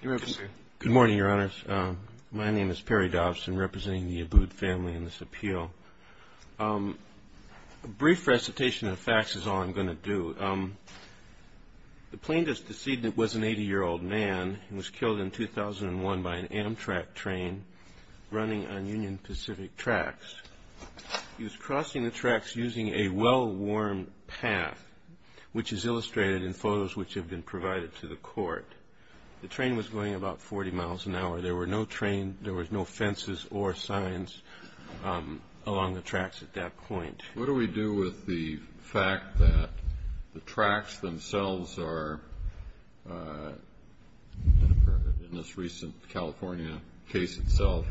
Good morning, your honors. My name is Perry Dobson, representing the Abboud family in this appeal. A brief recitation of facts is all I'm going to do. The plaintiff's decedent was an 80-year-old man. He was killed in 2001 by an Amtrak train running on Union Pacific tracks. He was crossing the tracks using a well-worn path, which is illustrated in photos which have been provided to the plaintiff. The train was going about 40 miles an hour. There were no trains, there were no fences or signs along the tracks at that point. What do we do with the fact that the tracks themselves are, in this recent California case itself,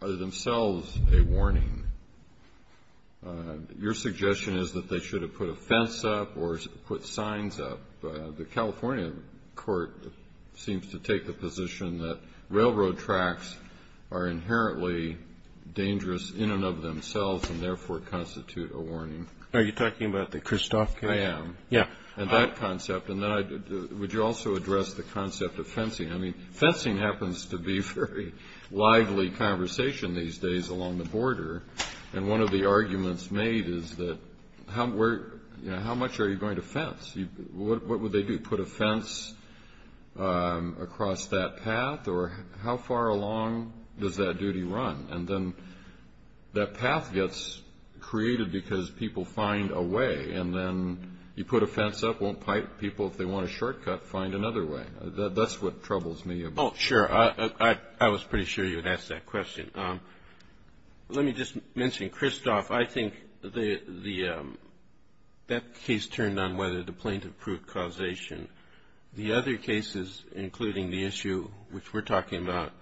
are themselves a warning? Your suggestion is that they should have put a fence up or put signs up. The California court seems to take the position that railroad tracks are inherently dangerous in and of themselves and therefore constitute a warning. Are you talking about the Kristof case? Would you also address the concept of fencing? Fencing happens to be a very lively conversation these days along the border. One of the arguments made is, how much are you going to fence? What would they do, put a fence across that path, or how far along does that duty run? And then that path gets created because people find a way, and then you put a fence up, won't pipe people if they want a shortcut, find another way. That's what troubles me. Sure, I was pretty sure you would ask that question. Let me just mention Kristof. I think that case turned on whether the plaintiff proved causation. The other cases, including the issue which we're talking about,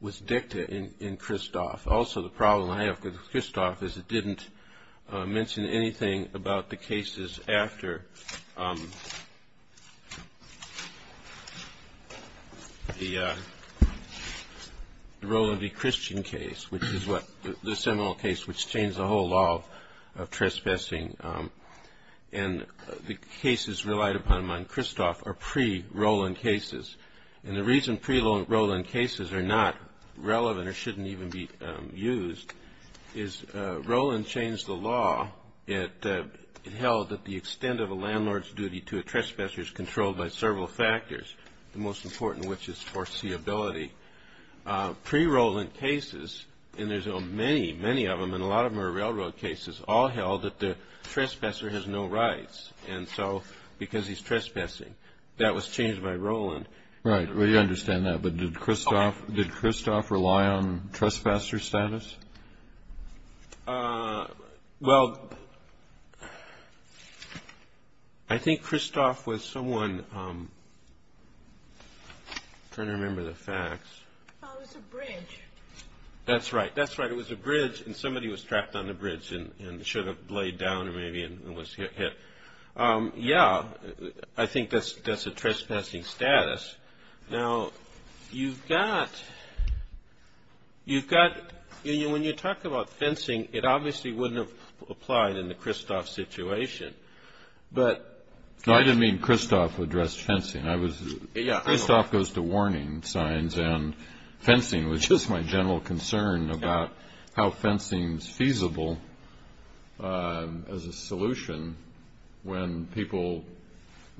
was dicta in Kristof. Also, the problem I have with Kristof is it didn't mention anything about the cases after the Roland v. Christian case, which is the seminal case which changed the whole law of trespassing. And the cases relied upon on Kristof are pre-Roland cases. And the reason pre-Roland cases are not relevant or shouldn't even be used is Roland changed the law. It held that the extent of a landlord's duty to a trespasser is controlled by several factors, the most important of which is foreseeability. Pre-Roland cases, and there's many, many of them, and a lot of them are railroad cases, all held that the trespasser has no rights. And so, because he's trespassing, that was changed by Roland. Right, we understand that. But did Kristof rely on trespasser status? Well, I think Kristof was someone, I'm trying to remember the facts. Oh, it was a bridge. That's right, that's right. It was a bridge and somebody was trapped on the bridge and should have laid down maybe and was hit. Yeah, I think that's a trespassing status. Now, you've got, when you talk about fencing, it obviously wouldn't have applied in the Kristof situation. No, I didn't mean Kristof addressed fencing. Kristof goes to warning signs and fencing was just my general concern about how fencing's feasible as a solution when people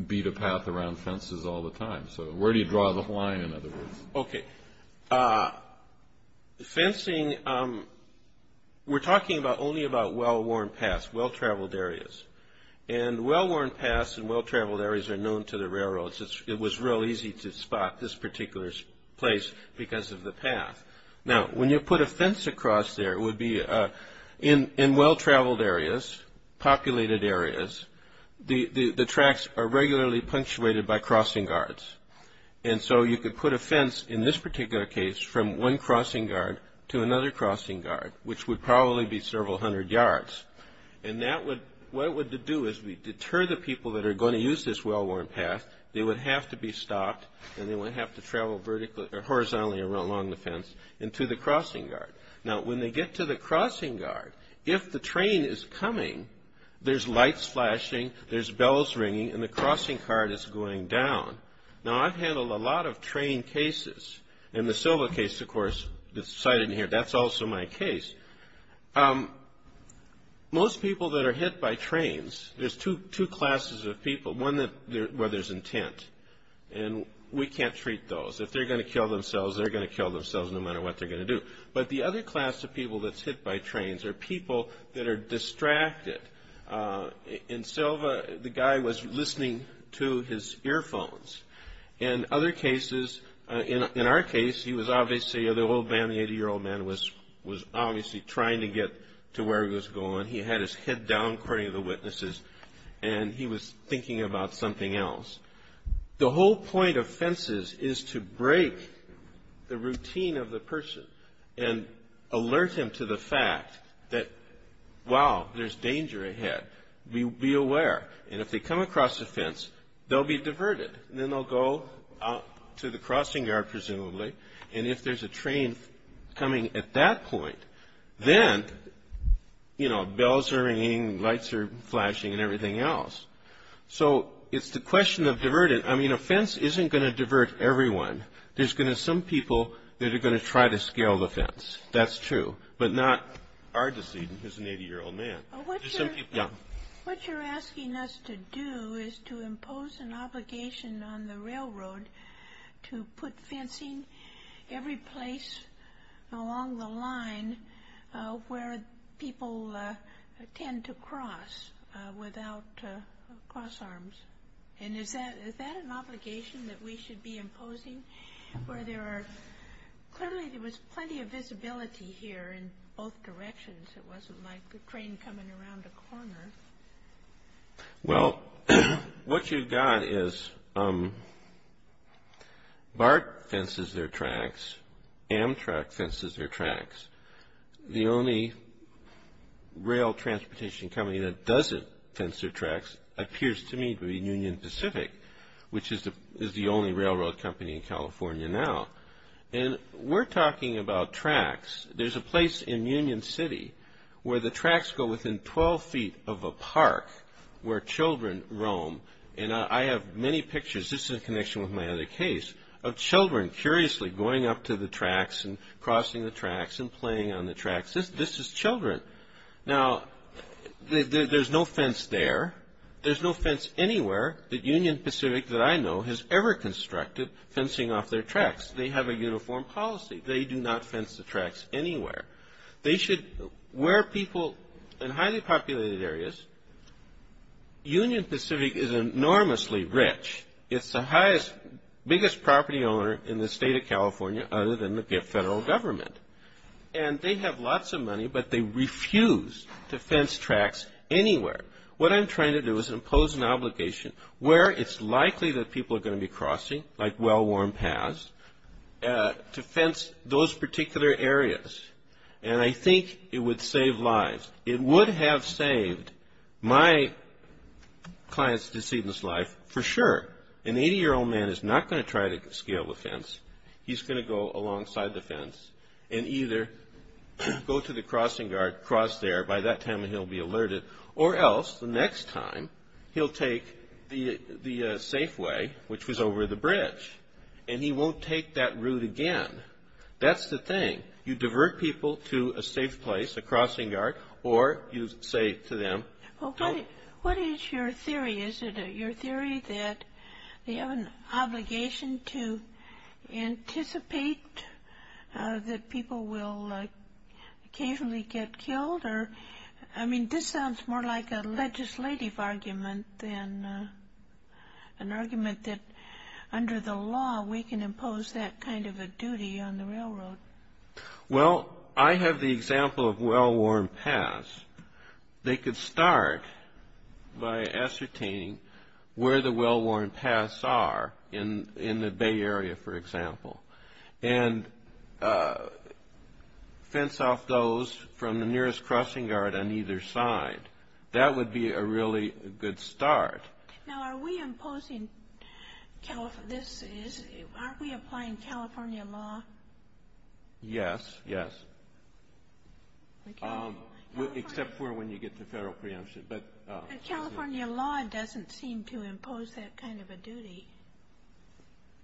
beat a path around fences all the time. So, where do you draw the line, in other words? Okay, fencing, we're talking only about well-worn paths, well-traveled areas. And well-worn paths and well-traveled areas are known to the railroads. It was real easy to spot this particular place because of the path. Now, when you put a fence across there, it would be in well-traveled areas, populated areas, the tracks are regularly punctuated by crossing guards. And so, you could put a fence, in this particular case, from one crossing guard to another crossing guard, which would probably be several hundred yards. And that would, what it would do is deter the people that are going to use this well-worn path. They would have to be stopped and they would have to travel horizontally along the fence into the crossing guard. Now, when they get to the crossing guard, if the train is coming, there's lights flashing, there's bells ringing, and the crossing guard is going down. Now, I've handled a lot of train cases. In the Silva case, of course, cited in here, that's also my case. Most people that are hit by trains, there's two classes of people, one where there's intent. And we can't treat those. If they're going to kill themselves, they're going to kill themselves no matter what they're going to do. But the other class of people that's hit by trains are people that are distracted. In Silva, the guy was listening to his earphones. In other cases, in our case, he was obviously, the old man, the 80-year-old man, was obviously trying to get to where he was going. He had his head down, according to the witnesses, and he was thinking about something else. The whole point of fences is to break the routine of the person and alert him to the fact that, wow, there's danger ahead. Be aware. And if they come across a fence, they'll be diverted, and then they'll go out to the crossing guard, presumably. And if there's a train coming at that point, then, you know, bells are ringing, lights are flashing, and everything else. So it's the question of diverting. I mean, a fence isn't going to divert everyone. There's going to be some people that are going to try to scale the fence. That's true. But not our decision as an 80-year-old man. What you're asking us to do is to impose an obligation on the railroad to put fencing every place along the line where people tend to cross without cross arms. And is that an obligation that we should be imposing? Clearly, there was plenty of visibility here in both directions. It wasn't like the train coming around a corner. Well, what you've got is BART fences their tracks. Amtrak fences their tracks. The only rail transportation company that doesn't fence their tracks appears to me to be Union Pacific, which is the only railroad company in California now. And we're talking about tracks. There's a place in Union City where the tracks go within 12 feet of a park where children roam. And I have many pictures. This is in connection with my other case of children curiously going up to the tracks and crossing the tracks and playing on the tracks. This is children. Now, there's no fence there. There's no fence anywhere that Union Pacific that I know has ever constructed fencing off their tracks. They have a uniform policy. They do not fence the tracks anywhere. They should wear people in highly populated areas. Union Pacific is enormously rich. It's the highest, biggest property owner in the state of California other than the federal government. And they have lots of money, but they refuse to fence tracks anywhere. What I'm trying to do is impose an obligation where it's likely that people are going to be crossing, like well-worn paths, to fence those particular areas. And I think it would save lives. It would have saved my client's decedent's life for sure. An 80-year-old man is not going to try to scale a fence. He's going to go alongside the fence and either go to the crossing guard, cross there. By that time, he'll be alerted. Or else, the next time, he'll take the safe way, which was over the bridge, and he won't take that route again. That's the thing. You divert people to a safe place, a crossing guard, or you say to them. What is your theory? Is it your theory that they have an obligation to anticipate that people will occasionally get killed? I mean, this sounds more like a legislative argument than an argument that under the law, we can impose that kind of a duty on the railroad. Well, I have the example of well-worn paths. They could start by ascertaining where the well-worn paths are in the Bay Area, for example, and fence off those from the nearest crossing guard on either side. That would be a really good start. Now, are we imposing this? Aren't we applying California law? Yes, yes. Except for when you get to federal preemption. But California law doesn't seem to impose that kind of a duty.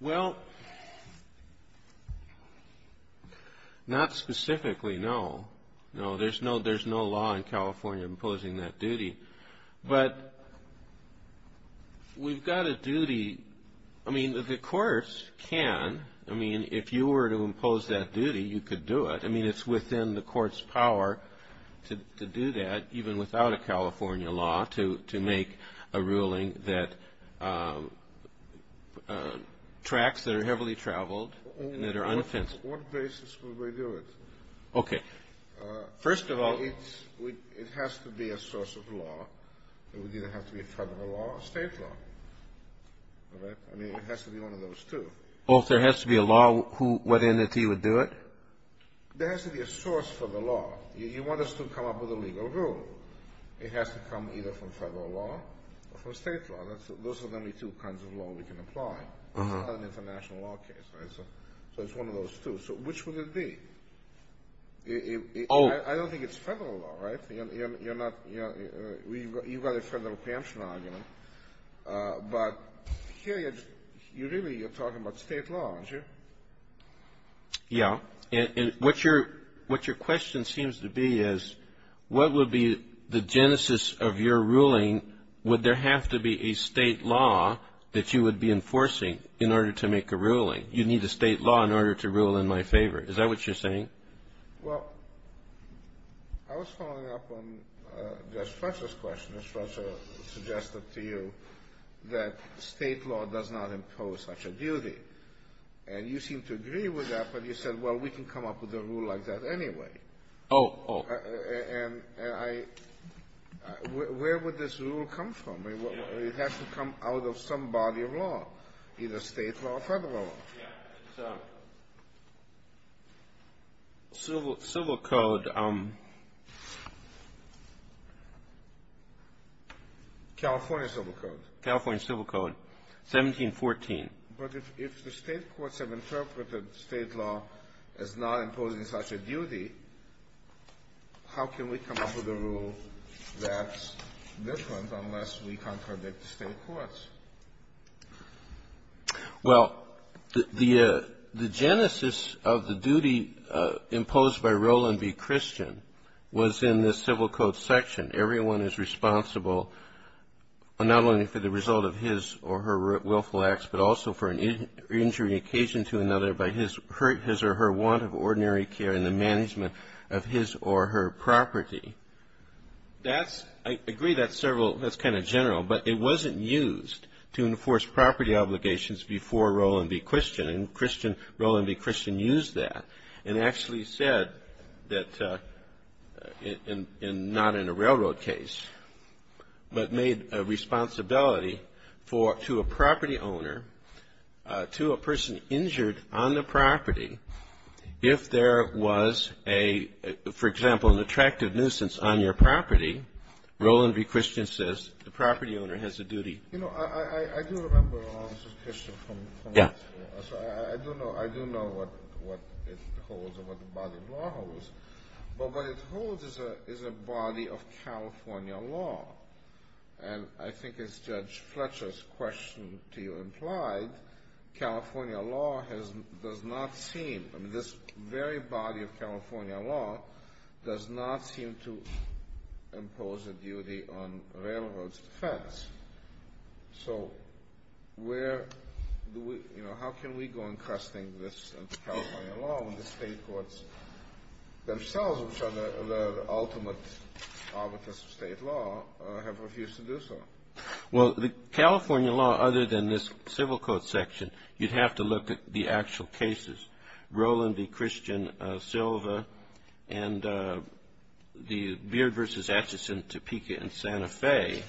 Well, not specifically, no. No, there's no law in California imposing that duty. But we've got a duty. I mean, the courts can. I mean, if you were to impose that duty, you could do it. I mean, it's within the court's power to do that, even without a California law, to make a ruling that tracks that are heavily traveled and that are unoffensive. What basis would we do it? Okay. First of all, it has to be a source of law. It would either have to be a federal law or a state law. All right? I mean, it has to be one of those two. Well, if there has to be a law, what entity would do it? There has to be a source for the law. You want us to come up with a legal rule. It has to come either from federal law or from state law. Those are the only two kinds of law we can apply. It's not an international law case. So it's one of those two. So which would it be? I don't think it's federal law, right? You've got a federal preemption argument. But here, really, you're talking about state law, aren't you? Yeah. And what your question seems to be is what would be the genesis of your ruling? Would there have to be a state law that you would be enforcing in order to make a ruling? You need a state law in order to rule in my favor. Is that what you're saying? Well, I was following up on Judge Fletcher's question. Judge Fletcher suggested to you that state law does not impose such a duty. And you seem to agree with that, but you said, well, we can come up with a rule like that anyway. Oh, oh. And I – where would this rule come from? It has to come out of some body of law, either state law or federal law. Yeah. It's Civil Code. California Civil Code. California Civil Code, 1714. But if the state courts have interpreted state law as not imposing such a duty, how can we come up with a rule that's different unless we contradict the state courts? Well, the genesis of the duty imposed by Roland B. Christian was in the Civil Code section. Everyone is responsible not only for the result of his or her willful acts, but also for an injury occasioned to another by his or her want of ordinary care and the management of his or her property. I agree that's kind of general, but it wasn't used to enforce property obligations before Roland B. Christian, and Roland B. Christian used that and actually said that not in a railroad case, but made a responsibility to a property owner, to a person injured on the property, if there was a, for example, an attractive nuisance on your property, Roland B. Christian says the property owner has a duty. You know, I do remember Roland B. Christian. Yeah. I do know what it holds and what the body of law holds, but what it holds is a body of California law, and I think as Judge Fletcher's question to you implied, California law does not seem, this very body of California law does not seem to impose a duty on railroad's defense. So where do we, you know, how can we go encrusting this into California law when the state courts themselves, which are the ultimate arbiters of state law, have refused to do so? Well, the California law, other than this civil court section, you'd have to look at the actual cases. Roland B. Christian, Silva, and the Beard v. Atchison, Topeka, and Santa Fe.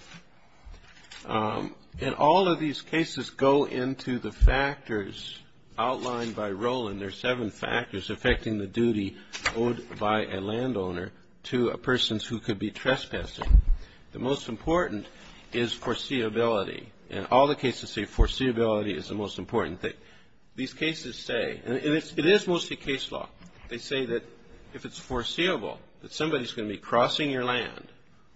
And all of these cases go into the factors outlined by Roland. There are seven factors affecting the duty owed by a landowner to a person who could be trespassing. The most important is foreseeability. And all the cases say foreseeability is the most important thing. These cases say, and it is mostly case law, they say that if it's foreseeable that somebody's going to be crossing your land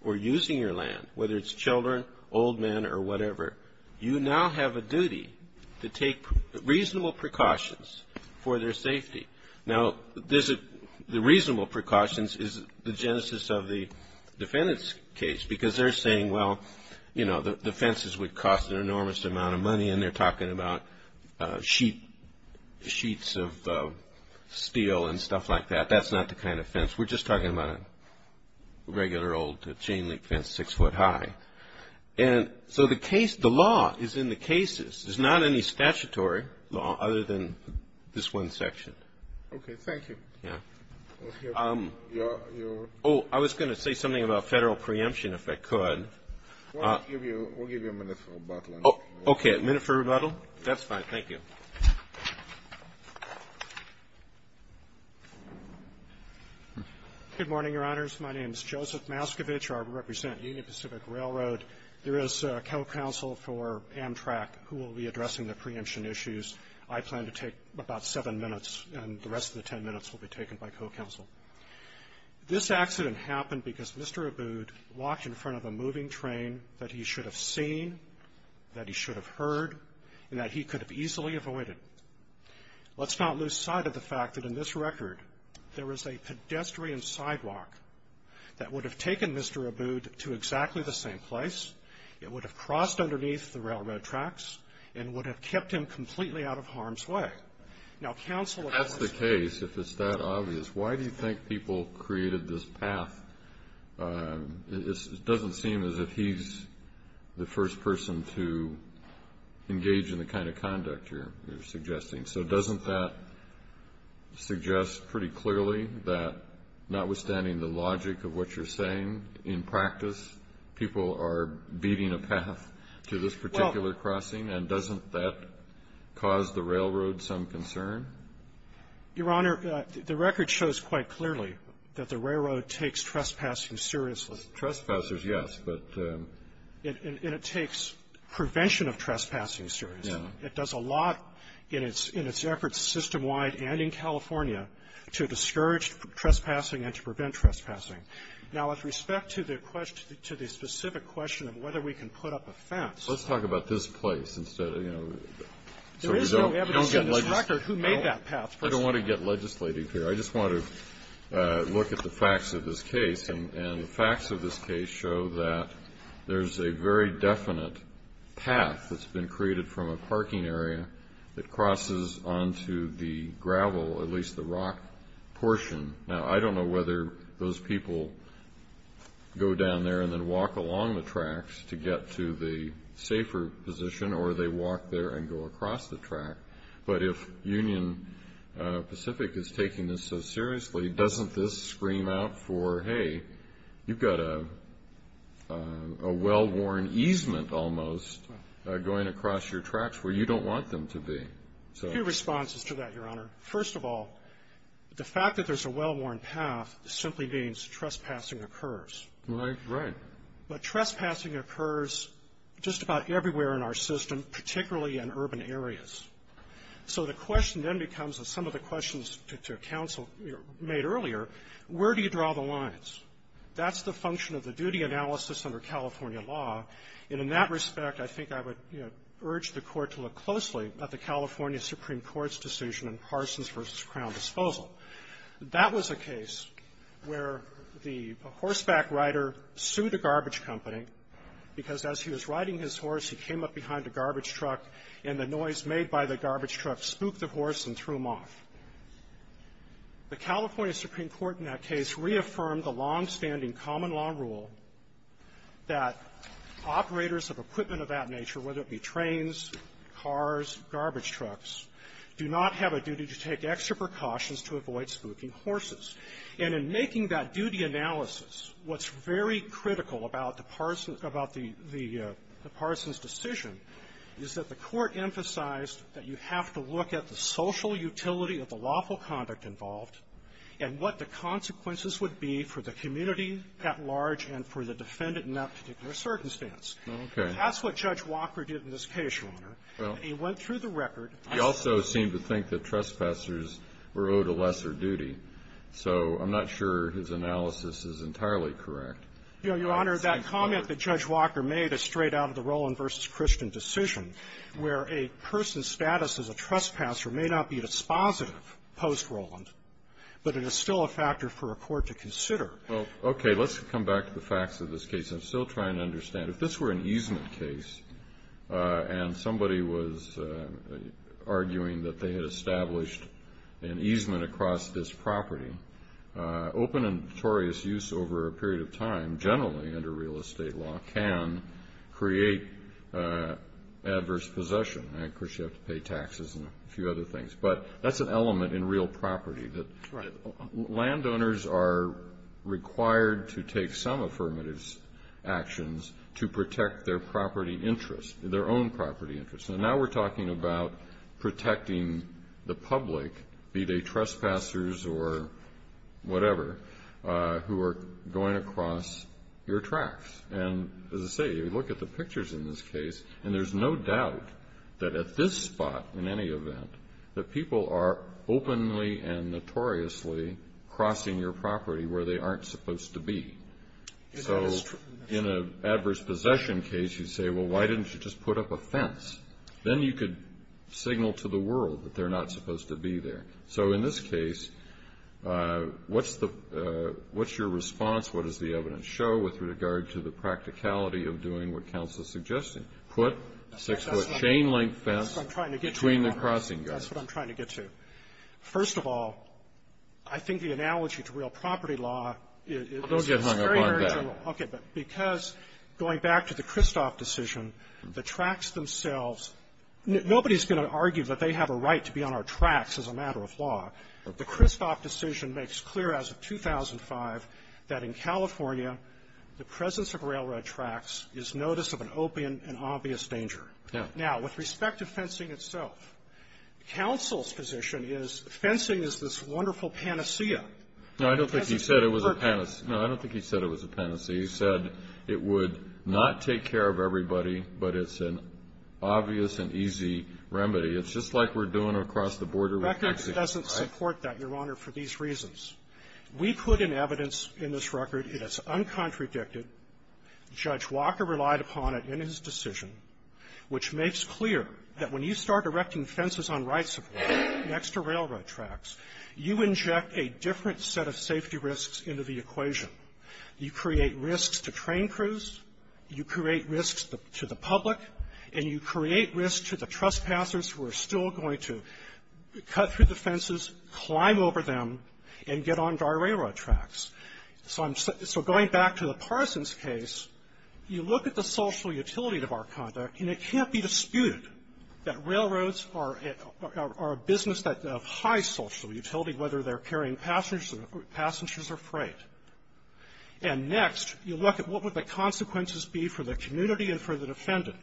or using your land, whether it's children, old men, or whatever, you now have a duty to take reasonable precautions for their safety. Now, the reasonable precautions is the genesis of the defendant's case, because they're saying, well, you know, the fences would cost an enormous amount of money, and they're talking about sheets of steel and stuff like that. That's not the kind of fence. We're just talking about a regular old chain link fence six foot high. And so the case, the law is in the cases. There's not any statutory law other than this one section. Okay, thank you. Yeah. Oh, I was going to say something about federal preemption, if I could. We'll give you a minute for rebuttal. Okay, a minute for rebuttal? That's fine. Thank you. Good morning, Your Honors. My name is Joseph Maskovich. I represent Union Pacific Railroad. There is a co-counsel for Amtrak who will be addressing the preemption issues. I plan to take about seven minutes, and the rest of the ten minutes will be taken by co-counsel. This accident happened because Mr. Abood walked in front of a moving train that he should have seen, that he should have heard, and that he could have easily avoided. Let's not lose sight of the fact that in this record there is a pedestrian sidewalk that would have taken Mr. Abood to exactly the same place. It would have crossed underneath the railroad tracks and would have kept him completely out of harm's way. That's the case, if it's that obvious. Why do you think people created this path? It doesn't seem as if he's the first person to engage in the kind of conduct you're suggesting. So doesn't that suggest pretty clearly that notwithstanding the logic of what you're saying, in practice people are beating a path to this particular crossing, and doesn't that cause the railroad some concern? Your Honor, the record shows quite clearly that the railroad takes trespassing seriously. Well, trespassers, yes, but the ---- And it takes prevention of trespassing seriously. It does a lot in its efforts system-wide and in California to discourage trespassing and to prevent trespassing. Now, with respect to the specific question of whether we can put up a fence ---- Let's talk about this place instead of, you know ---- There is no evidence in this record who made that path. I don't want to get legislative here. I just want to look at the facts of this case. And the facts of this case show that there's a very definite path that's been created from a parking area that crosses onto the gravel, at least the rock portion. Now, I don't know whether those people go down there and then walk along the tracks to get to the safer position, or they walk there and go across the track. But if Union Pacific is taking this so seriously, doesn't this scream out for, hey, you've got a well-worn easement almost going across your tracks where you don't want them to be? A few responses to that, Your Honor. First of all, the fact that there's a well-worn path simply means trespassing occurs. Right, right. But trespassing occurs just about everywhere in our system, particularly in urban areas. So the question then becomes, as some of the questions to counsel made earlier, where do you draw the lines? That's the function of the duty analysis under California law, and in that respect, I think I would urge the Court to look closely at the California Supreme Court's decision in Parsons v. Crown Disposal. That was a case where the horseback rider sued a garbage company because as he was riding his horse, he came up behind a garbage truck, and the noise made by the garbage truck spooked the horse and threw him off. The California Supreme Court in that case reaffirmed the longstanding common law rule that operators of equipment of that nature, whether it be trains, cars, garbage trucks, do not have a duty to take extra precautions to avoid spooking horses. And in making that duty analysis, what's very critical about the Parsons decision is that the Court emphasized that you have to look at the social utility of the lawful conduct involved and what the consequences would be for the community at large and for the defendant in that particular circumstance. Well, you also seem to think that trespassers were owed a lesser duty, so I'm not sure his analysis is entirely correct. Your Honor, that comment that Judge Walker made is straight out of the Roland v. Christian decision, where a person's status as a trespasser may not be dispositive post-Roland, but it is still a factor for a court to consider. Well, okay. Let's come back to the facts of this case. I'm still trying to understand. If this were an easement case and somebody was arguing that they had established an easement across this property, open and notorious use over a period of time, generally under real estate law, can create adverse possession. Of course, you have to pay taxes and a few other things. But that's an element in real property. Right. Landowners are required to take some affirmative actions to protect their property interest, their own property interest. And now we're talking about protecting the public, be they trespassers or whatever, who are going across your tracks. And, as I say, you look at the pictures in this case, and there's no doubt that at this spot, in any event, that people are openly and notoriously crossing your property where they aren't supposed to be. So in an adverse possession case, you say, well, why didn't you just put up a fence? Then you could signal to the world that they're not supposed to be there. So in this case, what's your response? What does the evidence show with regard to the practicality of doing what counsel is suggesting? Put a six-foot chain-link fence between the crossing guards. That's what I'm trying to get to. First of all, I think the analogy to real property law is very marginal. Well, don't get hung up on that. Okay. But because, going back to the Kristof decision, the tracks themselves, nobody's going to argue that they have a right to be on our tracks as a matter of law. The Kristof decision makes clear as of 2005 that in California, the presence of railroad tracks is notice of an open and obvious danger. Yeah. Now, with respect to fencing itself, counsel's position is fencing is this wonderful panacea. No, I don't think he said it was a panacea. No, I don't think he said it was a panacea. He said it would not take care of everybody, but it's an obvious and easy remedy. It's just like we're doing across the border with Mexico, right? That doesn't support that, Your Honor, for these reasons. We put in evidence in this record, it is uncontradicted. Judge Walker relied upon it in his decision, which makes clear that when you start erecting fences on right-of-way next to railroad tracks, you inject a different set of safety risks into the equation. You create risks to train crews, you create risks to the public, and you create risks to the trespassers who are still going to cut through the fences, climb over them, and get onto our railroad tracks. So I'm so going back to the Parsons case, you look at the social utility of our conduct, and it can't be disputed that railroads are a business of high social utility, whether they're carrying passengers or freight. And next, you look at what would the consequences be for the community and for the defendant.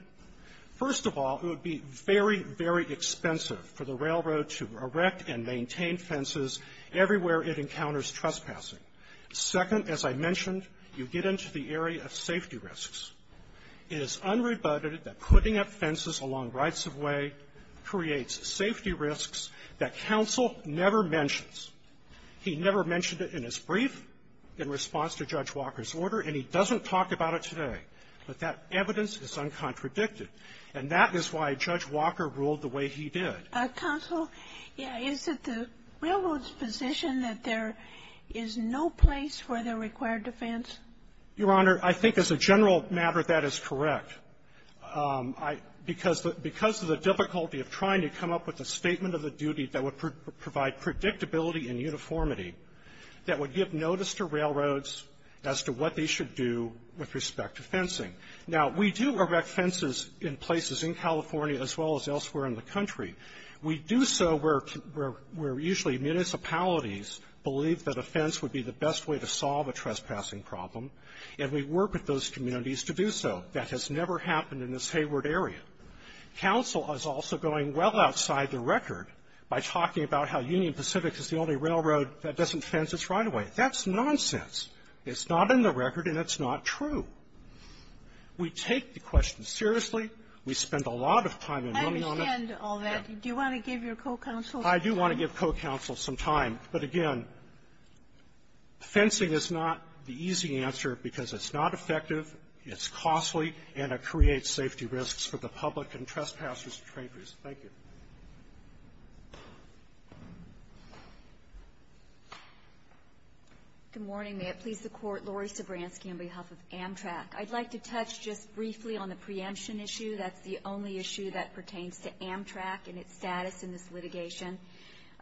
First of all, it would be very, very expensive for the railroad to erect and maintain fences everywhere it encounters trespassing. Second, as I mentioned, you get into the area of safety risks. It is unrebutted that putting up fences along right-of-way creates safety risks that counsel never mentions. He never mentioned it in his brief in response to Judge Walker's order, and he doesn't talk about it today. But that evidence is uncontradicted, and that is why Judge Walker ruled the way he did. Counsel, is it the railroad's position that there is no place for the required defense? Your Honor, I think as a general matter, that is correct. Because of the difficulty of trying to come up with a statement of the duty that would provide predictability and uniformity, that would give notice to railroads as to what they should do with respect to fencing. Now, we do erect fences in places in California as well as elsewhere in the country. We do so where usually municipalities believe that a fence would be the best way to solve a trespassing problem, and we work with those communities to do so. That has never happened in this Hayward area. Counsel is also going well outside the record by talking about how Union Pacific is the only railroad that doesn't fence its right-of-way. That's nonsense. It's not in the record, and it's not true. We take the question seriously. We spend a lot of time and money on it. And all that. Do you want to give your co-counsel some time? I do want to give co-counsel some time. But again, fencing is not the easy answer because it's not effective, it's costly, and it creates safety risks for the public and trespassers and traitors. Thank you. Good morning. May it please the Court. Laurie Sobranski on behalf of Amtrak. I'd like to touch just briefly on the preemption issue. That's the only issue that we have with Amtrak and its status in this litigation.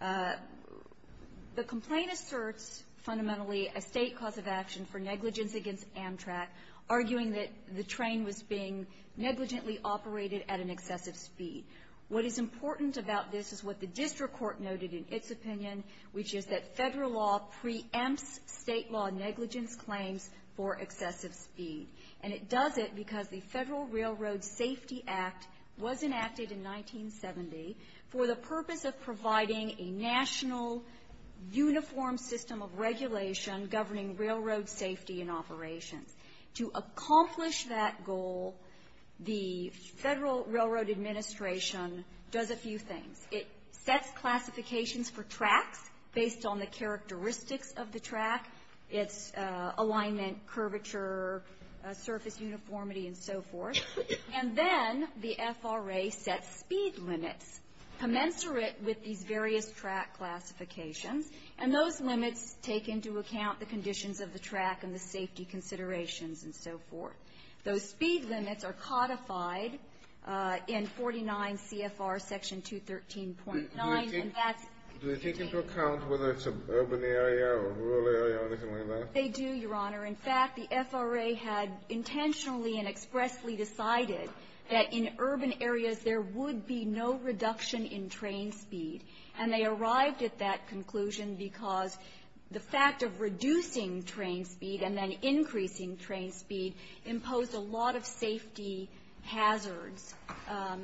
The complaint asserts fundamentally a state cause of action for negligence against Amtrak, arguing that the train was being negligently operated at an excessive speed. What is important about this is what the district court noted in its opinion, which is that federal law preempts state law negligence claims for excessive speed. And it does it because the Federal Railroad Safety Act was enacted in 1970 for the purpose of providing a national uniform system of regulation governing railroad safety and operations. To accomplish that goal, the Federal Railroad Administration does a few things. It sets classifications for tracks based on the characteristics of the track, its And then the FRA sets speed limits commensurate with these various track classifications, and those limits take into account the conditions of the track and the safety considerations and so forth. Those speed limits are codified in 49 CFR section 213.9, and that's Do they take into account whether it's an urban area or rural area or anything like that? They do, Your Honor. In fact, the FRA had intentionally and expressly decided that in urban areas there would be no reduction in train speed. And they arrived at that conclusion because the fact of reducing train speed and then increasing train speed imposed a lot of safety hazards.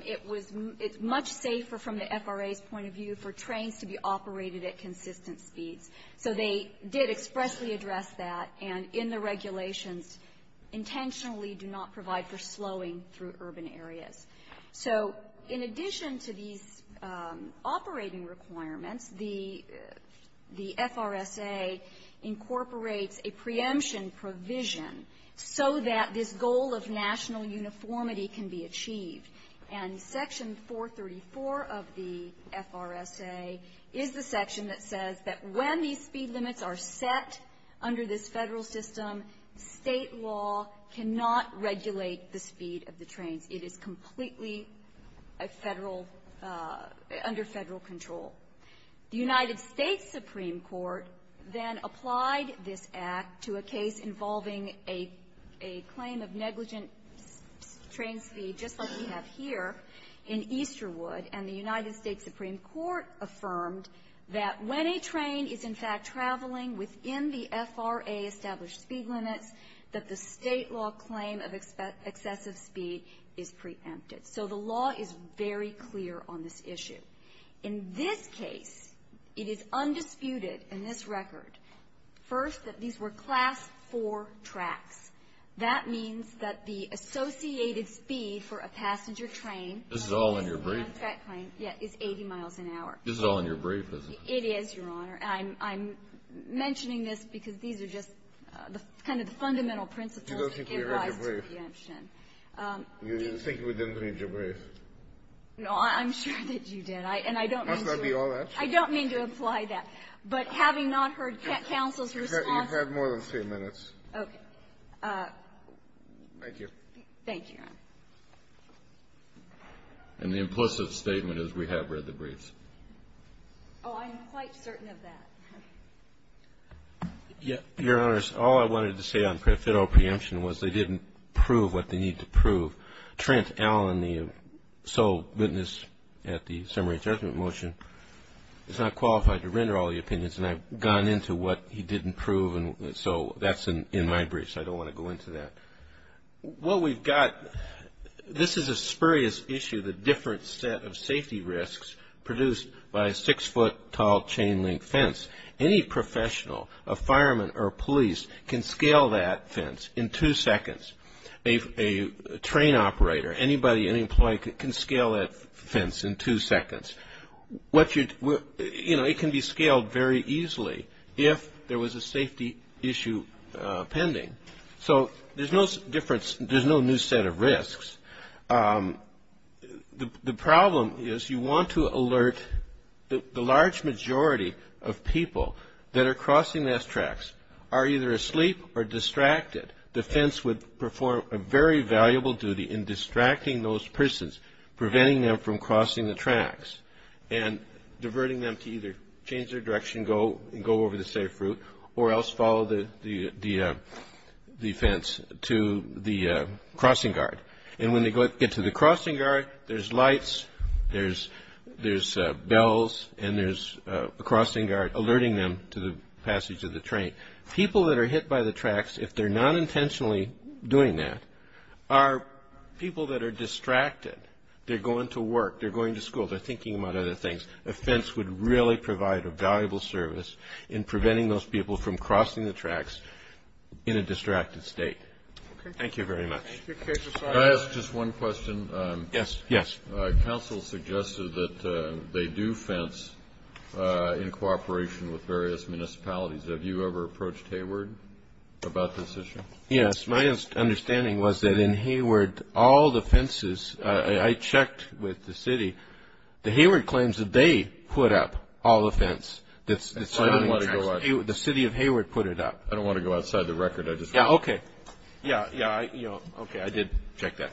It was much safer from the FRA's point of view for trains to be operated at consistent speeds. So they did expressly address that, and in the regulations, intentionally do not provide for slowing through urban areas. So in addition to these operating requirements, the FRSA incorporates a preemption provision so that this goal of national uniformity can be achieved. And Section 434 of the FRSA is the section that says that when a railroad is operating at a speed limit, that when these speed limits are set under this Federal system, State law cannot regulate the speed of the trains. It is completely a Federal under Federal control. The United States Supreme Court then applied this Act to a case involving a claim of negligent train speed, just like we have here in Easterwood, and the United States Supreme Court affirmed that when a train is, in fact, traveling within the FRA-established speed limits, that the State law claim of excessive speed is preempted. So the law is very clear on this issue. In this case, it is undisputed in this record, first, that these were Class 4 tracks. That means that the associated speed for a passenger train — This is all in your brief, isn't it? It is, Your Honor. I'm mentioning this because these are just kind of the fundamental principles You don't think we read your brief? You think we didn't read your brief? No, I'm sure that you did. And I don't mean to — Must not be all that. I don't mean to imply that. But having not heard counsel's response — You've had more than three minutes. Okay. Thank you. Thank you, Your Honor. And the implicit statement is we have read the briefs. Oh, I'm quite certain of that. Your Honors, all I wanted to say on federal preemption was they didn't prove what they need to prove. Trent Allen, the sole witness at the summary judgment motion, is not qualified to render all the opinions, and I've gone into what he didn't prove, and so that's in my brief, so I don't want to go into that. What we've got, this is a spurious issue, the different set of safety risks produced by a six-foot-tall chain-link fence. Any professional, a fireman or a police, can scale that fence in two seconds. A train operator, anybody, any employee can scale that fence in two seconds. You know, it can be scaled very easily if there was a safety issue pending. So there's no difference, there's no new set of risks. The problem is you want to alert the large majority of people that are crossing those tracks, are either asleep or distracted. The fence would perform a very valuable duty in distracting those persons, preventing them from crossing the tracks, and diverting them to either change their direction and go over the safe route or else follow the fence to the crossing guard. And when they get to the crossing guard, there's lights, there's bells, and there's a crossing guard alerting them to the passage of the train. People that are hit by the tracks, if they're not intentionally doing that, are people that are distracted. They're going to work, they're going to school, they're thinking about other things. A fence would really provide a valuable service in preventing those people from crossing the tracks in a distracted state. Thank you very much. Can I ask just one question? Yes, yes. Council suggested that they do fence in cooperation with various municipalities. Have you ever approached Hayward about this issue? Yes. My understanding was that in Hayward, all the fences, I checked with the city, the Hayward claims that they put up all the fence that's surrounding the tracks. The city of Hayward put it up. I don't want to go outside the record. Yeah, okay. Yeah, yeah, okay, I did check that. Thank you.